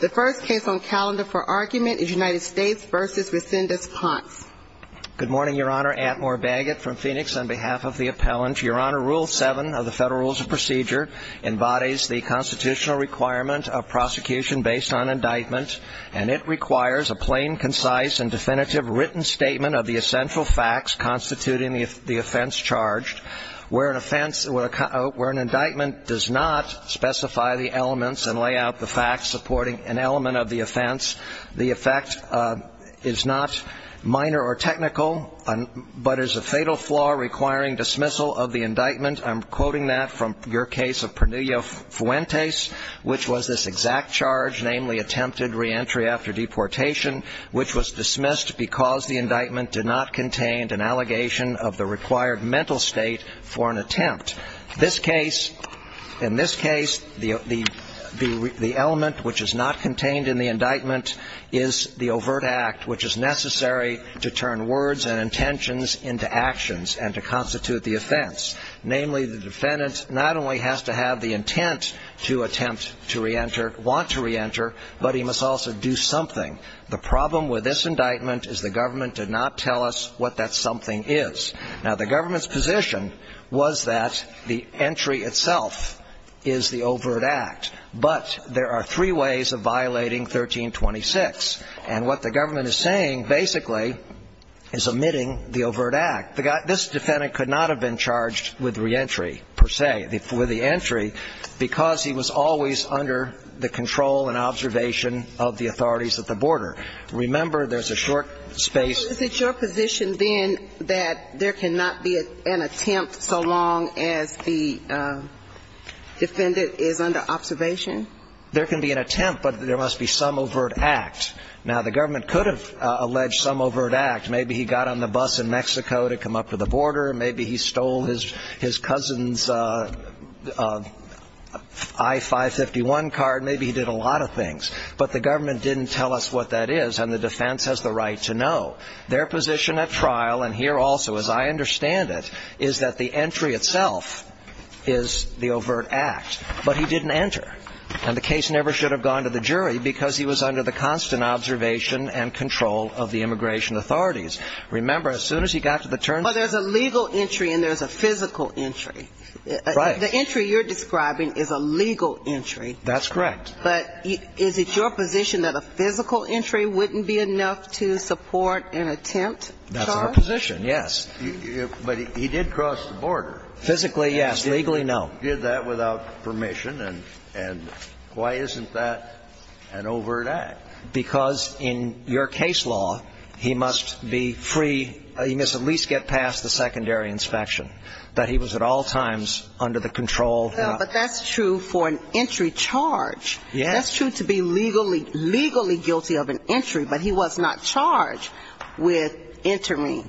The first case on calendar for argument is United States v. Resendiz-Ponce Good morning, Your Honor. Antmore Baggett from Phoenix on behalf of the appellant. Your Honor, Rule 7 of the Federal Rules of Procedure embodies the constitutional requirement of prosecution based on indictment and it requires a plain, concise, and definitive written statement of the essential facts constituting the offense charged where an offense, where an indictment does not specify the elements and lay out the facts supporting an element of the offense. The effect is not minor or technical, but is a fatal flaw requiring dismissal of the indictment. I'm quoting that from your case of Pernilla Fuentes, which was this exact charge, namely attempted reentry after deportation, which was dismissed because the indictment did not contain an allegation of the required mental state for an attempt. This case, in this case, the element which is not contained in the indictment is the overt act, which is necessary to turn words and intentions into actions and to constitute the offense. Namely, the defendant not only has to have the intent to attempt to reenter, want to reenter, but he must also do something. The problem with this indictment is the government did not tell us what that something is. Now, the government's position was that the entry itself is the overt act, but there are three ways of violating 1326. And what the government is saying, basically, is omitting the overt act. This defendant could not have been charged with reentry, per se, with the entry, because he was always under the control and observation of the authorities at the border. Remember, there's a short space. Is it your position, then, that there cannot be an attempt so long as the defendant is under observation? There can be an attempt, but there must be some overt act. Now, the government could have alleged some overt act. Maybe he got on the bus in Mexico to come up to the border. Maybe he stole his cousin's I-551 card. Maybe he did a lot of things. But the government didn't tell us what that is, and the defense has the right to know. Their position at trial, and here also, as I understand it, is that the entry itself is the overt act, but he didn't enter. And the case never should have gone to the jury because he was under the constant observation and control of the immigration authorities. Remember, as soon as he got to the turnstile. But there's a legal entry and there's a physical entry. Right. The entry you're describing is a legal entry. That's correct. But is it your position that a physical entry wouldn't be enough to support an attempt charge? That's our position, yes. But he did cross the border. Physically, yes. Legally, no. He did that without permission, and why isn't that an overt act? Because in your case law, he must be free. He must at least get past the secondary inspection, that he was at all times under the control. But that's true for an entry charge. Yes. That's true to be legally guilty of an entry, but he was not charged with entering.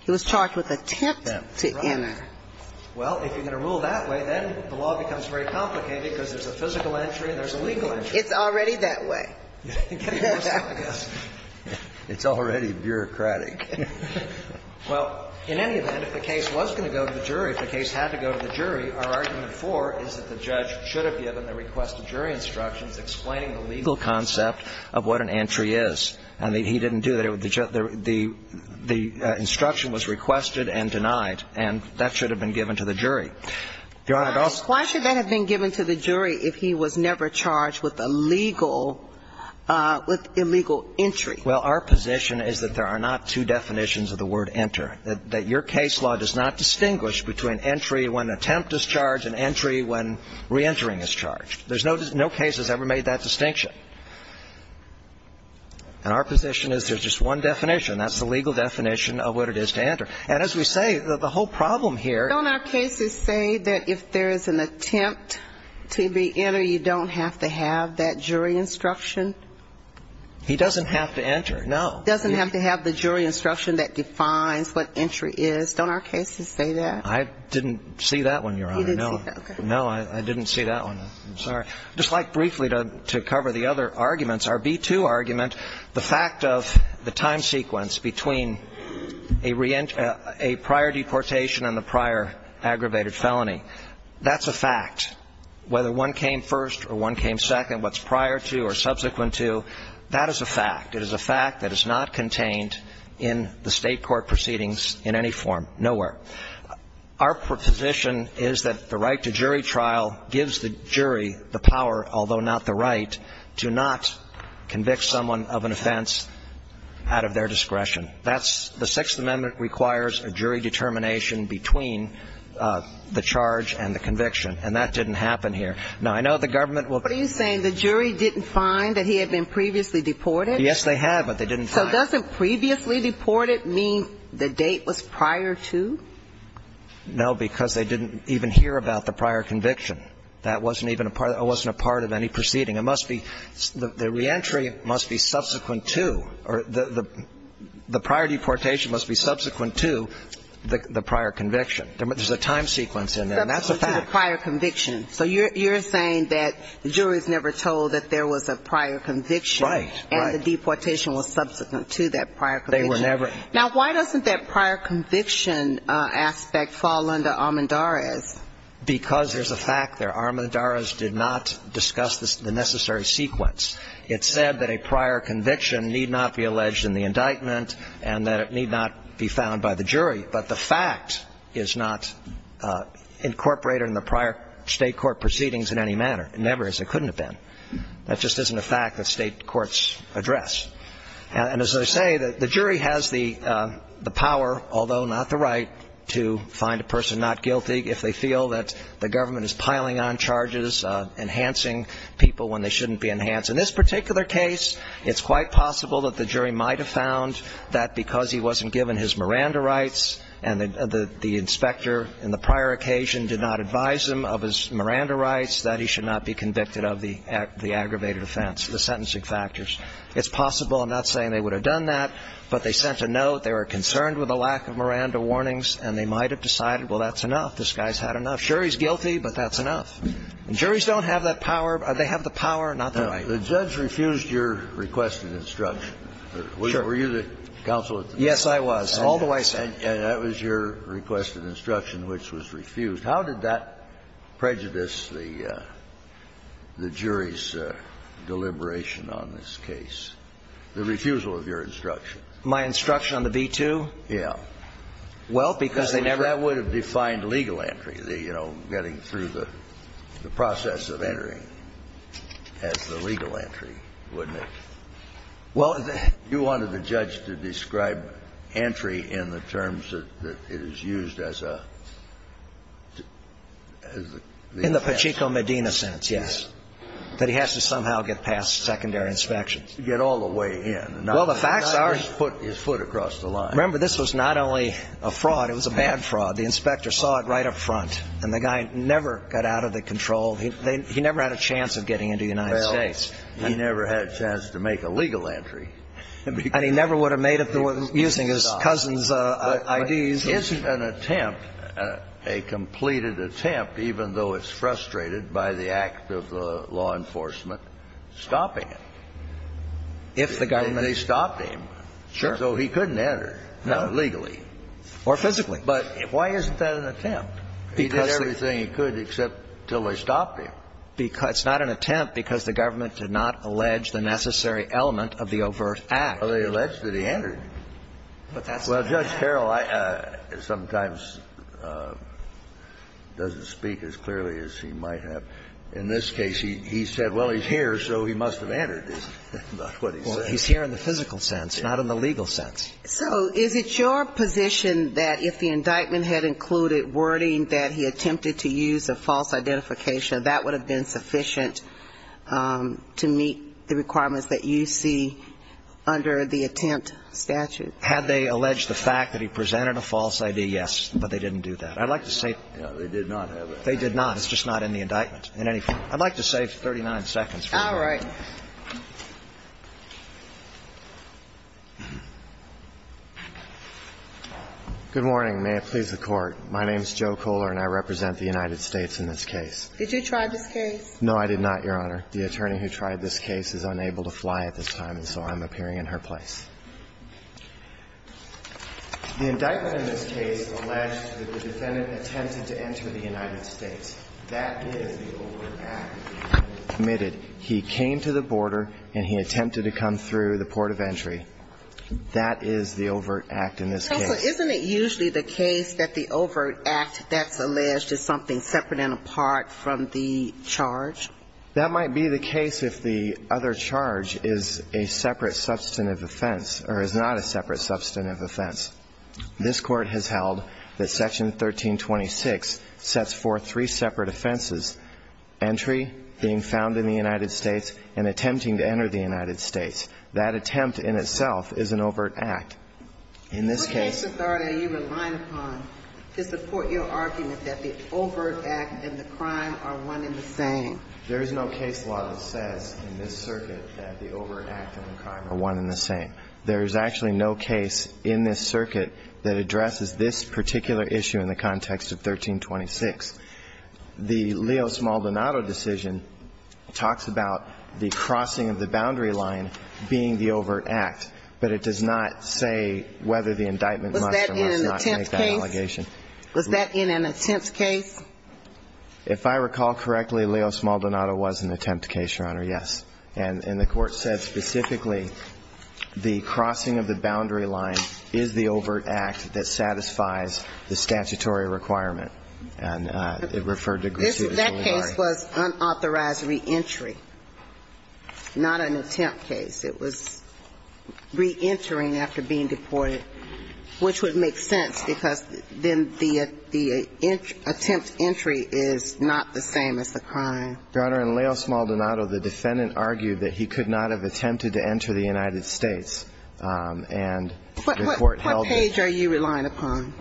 He was charged with attempt to enter. Well, if you're going to rule that way, then the law becomes very complicated because there's a physical entry and there's a legal entry. It's already that way. It's already bureaucratic. Well, in any event, if the case was going to go to the jury, if the case had to go to the jury, our argument for it is that the judge should have given the request of jury instructions explaining the legal concept of what an entry is. I mean, he didn't do that. The instruction was requested and denied, and that should have been given to the jury. Your Honor, I'd also say that's not true. Well, our position is that there are not two definitions of the word enter, that your case law does not distinguish between entry when attempt is charged and entry when reentering is charged. There's no case that's ever made that distinction. And our position is there's just one definition. That's the legal definition of what it is to enter. And as we say, the whole problem here — Don't our cases say that if there is an attempt to be entered, you don't have to have that entry? You don't have to have that jury instruction? He doesn't have to enter, no. He doesn't have to have the jury instruction that defines what entry is. Don't our cases say that? I didn't see that one, your Honor. You didn't see that, okay. No, I didn't see that one. I'm sorry. I'd just like briefly to cover the other arguments. Our B-2 argument, the fact of the time sequence between a prior deportation and the prior aggravated felony, that's a fact. Whether one came first or one came second, what's prior to or subsequent to, that is a fact. It is a fact that is not contained in the State court proceedings in any form, nowhere. Our position is that the right to jury trial gives the jury the power, although not the right, to not convict someone of an offense out of their discretion. That's — the Sixth Amendment requires a jury determination between the charge and the conviction. And that didn't happen here. Now, I know the government will — What are you saying? The jury didn't find that he had been previously deported? Yes, they have, but they didn't find. So doesn't previously deported mean the date was prior to? No, because they didn't even hear about the prior conviction. That wasn't even a part — it wasn't a part of any proceeding. It must be — the reentry must be subsequent to, or the prior deportation must be subsequent to the prior conviction. There's a time sequence in there. Subsequent to the prior conviction. That's a fact. So you're saying that the jury's never told that there was a prior conviction. Right, right. And the deportation was subsequent to that prior conviction. They were never — Now, why doesn't that prior conviction aspect fall under Armendariz? Because there's a fact there. Armendariz did not discuss the necessary sequence. It said that a prior conviction need not be alleged in the indictment and that it need not be found by the jury. But the fact is not incorporated in the prior state court proceedings in any manner. It never is. It couldn't have been. That just isn't a fact that state courts address. And as I say, the jury has the power, although not the right, to find a person not guilty if they feel that the government is piling on charges, enhancing people when they shouldn't be enhanced. In this particular case, it's quite possible that the jury might have found that because he wasn't given his Miranda rights and the inspector in the prior occasion did not advise him of his Miranda rights, that he should not be convicted of the aggravated offense, the sentencing factors. It's possible. I'm not saying they would have done that, but they sent a note. They were concerned with the lack of Miranda warnings, and they might have decided, well, that's enough. This guy's had enough. Sure, he's guilty, but that's enough. And juries don't have that power. They have the power, not the right. The judge refused your requested instruction. Sure. Were you the counsel at the time? Yes, I was, all the way. And that was your requested instruction, which was refused. How did that prejudice the jury's deliberation on this case, the refusal of your instruction? My instruction on the V-2? Yeah. Well, because they never ---- Well, you wanted the judge to describe entry in the terms that it is used as a ---- In the Pachinko-Medina sense, yes, that he has to somehow get past secondary inspections. Get all the way in. Well, the facts are ---- Not just put his foot across the line. Remember, this was not only a fraud. It was a bad fraud. The inspector saw it right up front, and the guy never got out of the control. He never had a chance of getting into the United States. Well, he never had a chance to make a legal entry. And he never would have made it using his cousin's IDs. Isn't an attempt, a completed attempt, even though it's frustrated by the act of the law enforcement, stopping it? If the government ---- They stopped him. Sure. So he couldn't enter legally. Or physically. But why isn't that an attempt? He did everything he could except until they stopped him. It's not an attempt because the government did not allege the necessary element of the overt act. Well, they alleged that he entered. But that's not an act. Well, Judge Carroll, I ---- sometimes doesn't speak as clearly as he might have. In this case, he said, well, he's here, so he must have entered. That's not what he said. Well, he's here in the physical sense, not in the legal sense. So is it your position that if the indictment had included wording that he attempted to use a false identification, that would have been sufficient to meet the requirements that you see under the attempt statute? Had they alleged the fact that he presented a false ID, yes, but they didn't do that. I'd like to say ---- They did not have it. They did not. It's just not in the indictment. I'd like to save 39 seconds for you. All right. Good morning. May it please the Court. My name is Joe Kohler, and I represent the United States in this case. Did you try this case? No, I did not, Your Honor. The attorney who tried this case is unable to fly at this time, and so I'm appearing in her place. The indictment in this case alleged that the defendant attempted to enter the United States. That is the overt act committed. He came to the border, and he attempted to come through the port of entry. That is the overt act in this case. Counsel, isn't it usually the case that the overt act that's alleged is something separate and apart from the charge? That might be the case if the other charge is a separate substantive offense or is not a separate substantive offense. This Court has held that Section 1326 sets forth three separate offenses, entry, being found in the United States, and attempting to enter the United States. That attempt in itself is an overt act. In this case What case authority are you relying upon to support your argument that the overt act and the crime are one and the same? There is no case law that says in this circuit that the overt act and the crime are one and the same. There is actually no case in this circuit that addresses this particular issue in the context of 1326. The Leo Smaldonado decision talks about the crossing of the boundary line being the overt act, but it does not say whether the indictment must or must not make that allegation. Was that in an attempt case? If I recall correctly, Leo Smaldonado was an attempt case, Your Honor, yes. And the Court said specifically the crossing of the boundary line is the overt act that satisfies the statutory requirement. And it referred to Griswold. That case was unauthorized reentry, not an attempt case. It was reentering after being deported, which would make sense because then the attempt entry is not the same as the crime. Your Honor, in Leo Smaldonado, the defendant argued that he could not have attempted to enter the United States, and the Court held it. What page are you relying upon?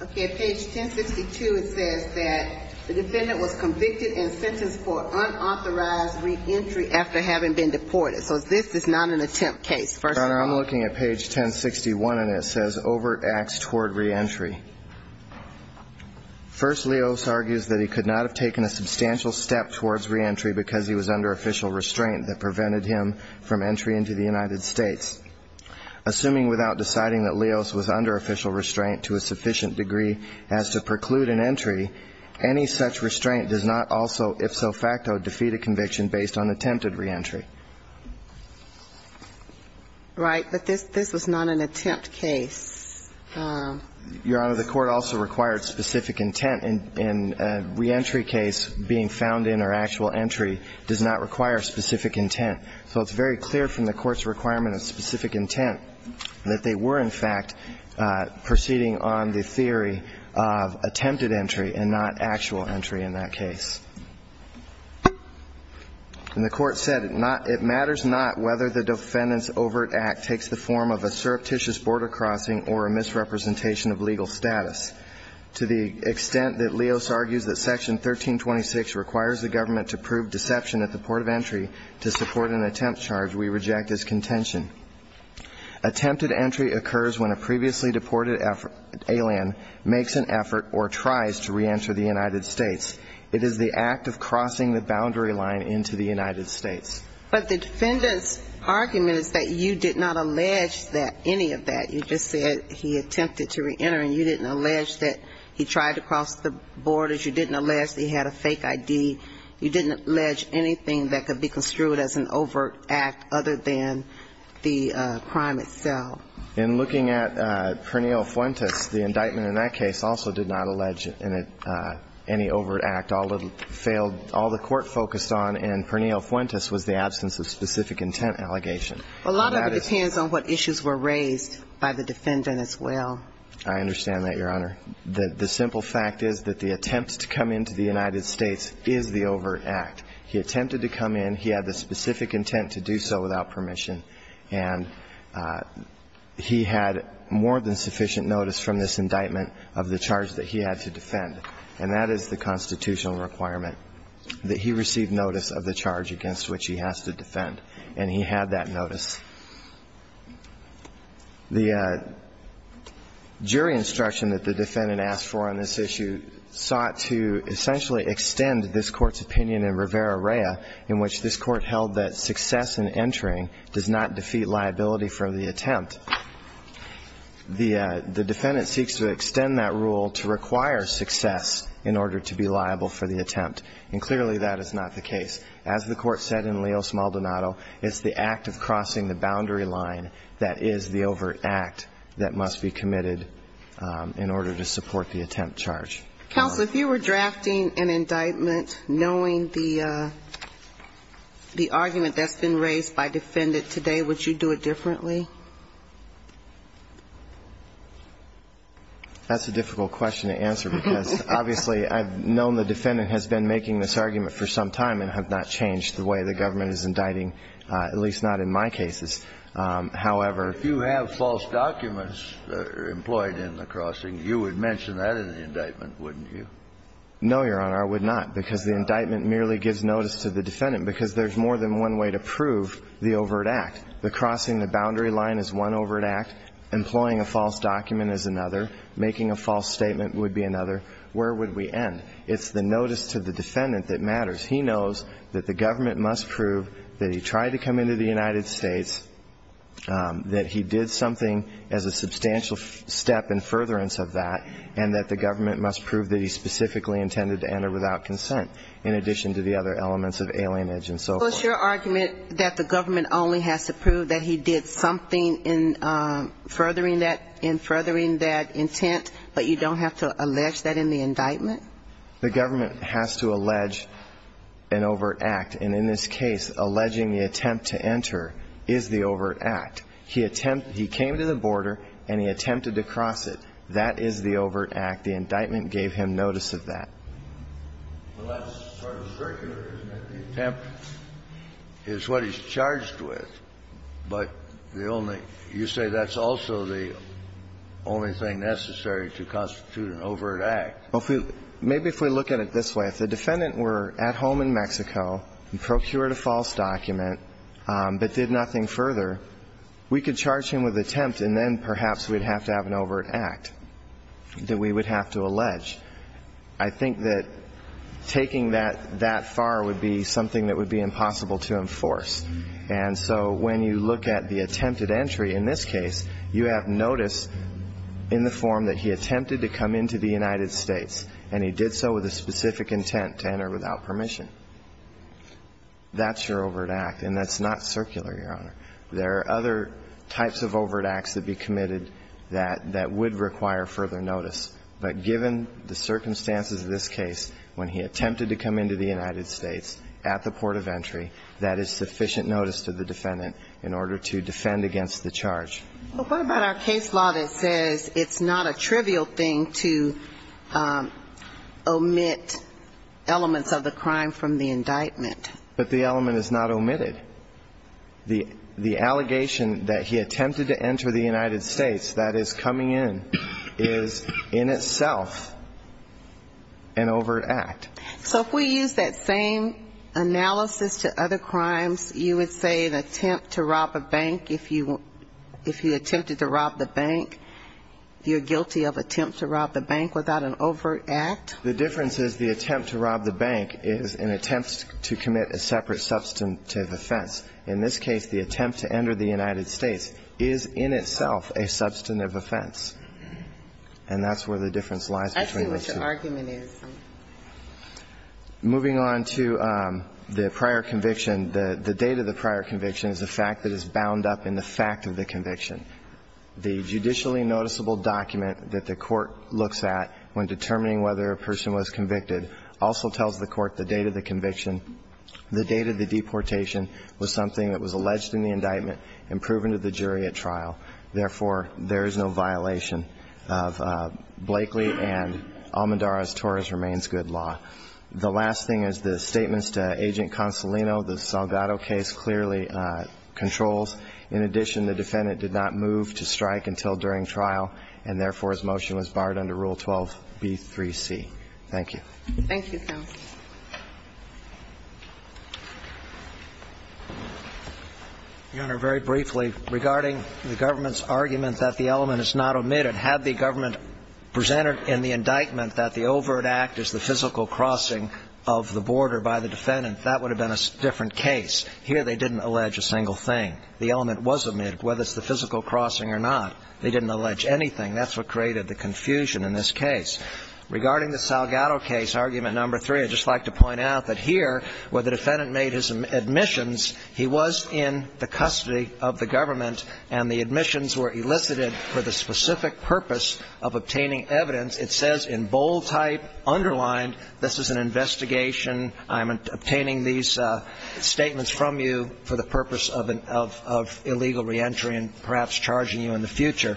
Okay. Page 1062, it says that the defendant was convicted and sentenced for unauthorized reentry after having been deported. So this is not an attempt case, first of all. Your Honor, I'm looking at page 1061, and it says, First, Leos argues that he could not have taken a substantial step towards reentry because he was under official restraint that prevented him from entry into the United States. Assuming without deciding that Leos was under official restraint to a sufficient degree as to preclude an entry, any such restraint does not also, if so facto, defeat a conviction based on attempted reentry. Right. But this was not an attempt case. Your Honor, the Court also required specific intent. In a reentry case, being found in or actual entry does not require specific intent. So it's very clear from the Court's requirement of specific intent that they were, in fact, proceeding on the theory of attempted entry and not actual entry in that case. And the Court said it matters not whether the defendant's overt act takes the form of a surreptitious border crossing or a misrepresentation of legal status. To the extent that Leos argues that Section 1326 requires the government to prove deception at the port of entry to support an attempt charge, we reject his contention. Attempted entry occurs when a previously deported alien makes an effort or tries to reenter the United States. It is the act of crossing the boundary line into the United States. But the defendant's argument is that you did not allege that, any of that. You just said he attempted to reenter, and you didn't allege that he tried to cross the borders. You didn't allege that he had a fake ID. You didn't allege anything that could be construed as an overt act other than the crime itself. In looking at Pernille Fuentes, the indictment in that case also did not allege any overt act. All the court focused on in Pernille Fuentes was the absence of specific intent allegation. A lot of it depends on what issues were raised by the defendant as well. I understand that, Your Honor. The simple fact is that the attempt to come into the United States is the overt act. He attempted to come in. He had the specific intent to do so without permission. And he had more than sufficient notice from this indictment of the charge that he had to defend. And that is the constitutional requirement, that he receive notice of the charge against which he has to defend. And he had that notice. The jury instruction that the defendant asked for on this issue sought to essentially extend this Court's opinion in Rivera-Reya, in which this Court held that success in entering does not defeat liability for the attempt. The defendant seeks to extend that rule to require success in order to be liable for the attempt. And clearly that is not the case. As the Court said in Leo Smaldonado, it's the act of crossing the boundary line that is the overt act that must be committed in order to support the attempt charge. Counsel, if you were drafting an indictment knowing the argument that's been raised by the defendant today, would you do it differently? That's a difficult question to answer, because obviously I've known the defendant has been making this argument for some time and have not changed the way the government is indicting, at least not in my cases. However... If you have false documents employed in the crossing, you would mention that in the indictment, wouldn't you? No, Your Honor, I would not, because the indictment merely gives notice to the overt act. The crossing the boundary line is one overt act. Employing a false document is another. Making a false statement would be another. Where would we end? It's the notice to the defendant that matters. He knows that the government must prove that he tried to come into the United States, that he did something as a substantial step in furtherance of that, and that the government must prove that he specifically intended to enter without consent, in addition to the other elements of alienage and so forth. So is your argument that the government only has to prove that he did something in furthering that intent, but you don't have to allege that in the indictment? The government has to allege an overt act. And in this case, alleging the attempt to enter is the overt act. He came to the border and he attempted to cross it. That is the overt act. The indictment gave him notice of that. Well, that's sort of circular, isn't it? The attempt is what he's charged with. But the only – you say that's also the only thing necessary to constitute an overt act. Well, if we – maybe if we look at it this way. If the defendant were at home in Mexico and procured a false document but did nothing further, we could charge him with attempt, and then perhaps we'd have to have an overt act that we would have to allege. I think that taking that that far would be something that would be impossible to enforce. And so when you look at the attempted entry in this case, you have notice in the form that he attempted to come into the United States, and he did so with a specific intent to enter without permission. That's your overt act, and that's not circular, Your Honor. There are other types of overt acts that be committed that would require further notice. But given the circumstances of this case, when he attempted to come into the United States at the port of entry, that is sufficient notice to the defendant in order to defend against the charge. But what about our case law that says it's not a trivial thing to omit elements of the crime from the indictment? But the element is not omitted. The allegation that he attempted to enter the United States, that is, coming in, is in itself an overt act. So if we use that same analysis to other crimes, you would say an attempt to rob a bank, if you attempted to rob the bank, you're guilty of attempt to rob the bank without an overt act? The difference is the attempt to rob the bank is an attempt to commit a separate substantive offense. In this case, the attempt to enter the United States is in itself a substantive offense, and that's where the difference lies between the two. Moving on to the prior conviction. The date of the prior conviction is a fact that is bound up in the fact of the conviction. The judicially noticeable document that the court looks at when determining whether a person was convicted also tells the court the date of the conviction, the date of the deportation was something that was alleged in the indictment and proven to the jury at trial. Therefore, there is no violation of Blakely and Almodarra's Torres Remains Good Law. The last thing is the statements to Agent Consolino. The Salgado case clearly controls. In addition, the defendant did not move to strike until during trial, and therefore, his motion was barred under Rule 12B3C. Thank you. Thank you, counsel. Your Honor, very briefly, regarding the government's argument that the element is not omitted, had the government presented in the indictment that the overt act is the physical crossing of the border by the defendant, that would have been a different case. Here they didn't allege a single thing. The element was omitted, whether it's the physical crossing or not. They didn't allege anything. That's what created the confusion in this case. I want to point out that here, where the defendant made his admissions, he was in the custody of the government, and the admissions were elicited for the specific purpose of obtaining evidence. It says in bold type, underlined, this is an investigation. I'm obtaining these statements from you for the purpose of illegal reentry and perhaps charging you in the future.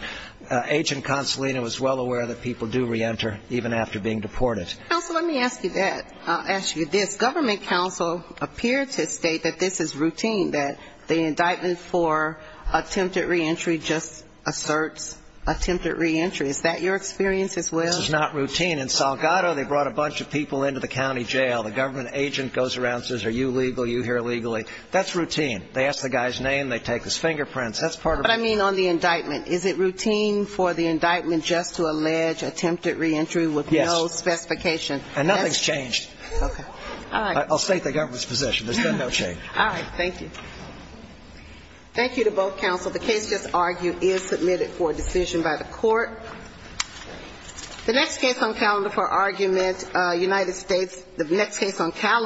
Agent Consolino is well aware that people do reenter even after being deported. Counsel, let me ask you that. I'll ask you this. Government counsel appeared to state that this is routine, that the indictment for attempted reentry just asserts attempted reentry. Is that your experience as well? This is not routine. In Salgado, they brought a bunch of people into the county jail. The government agent goes around and says, are you legal? Are you here legally? That's routine. They ask the guy's name. They take his fingerprints. That's part of it. But, I mean, on the indictment, is it routine for the indictment just to allege attempted reentry with no specification? Yes. And nothing's changed. Okay. All right. I'll state the government's position. There's been no change. All right. Thank you. Thank you to both counsel. The case just argued is submitted for decision by the court. The next case on calendar for argument, United States, the next case on calendar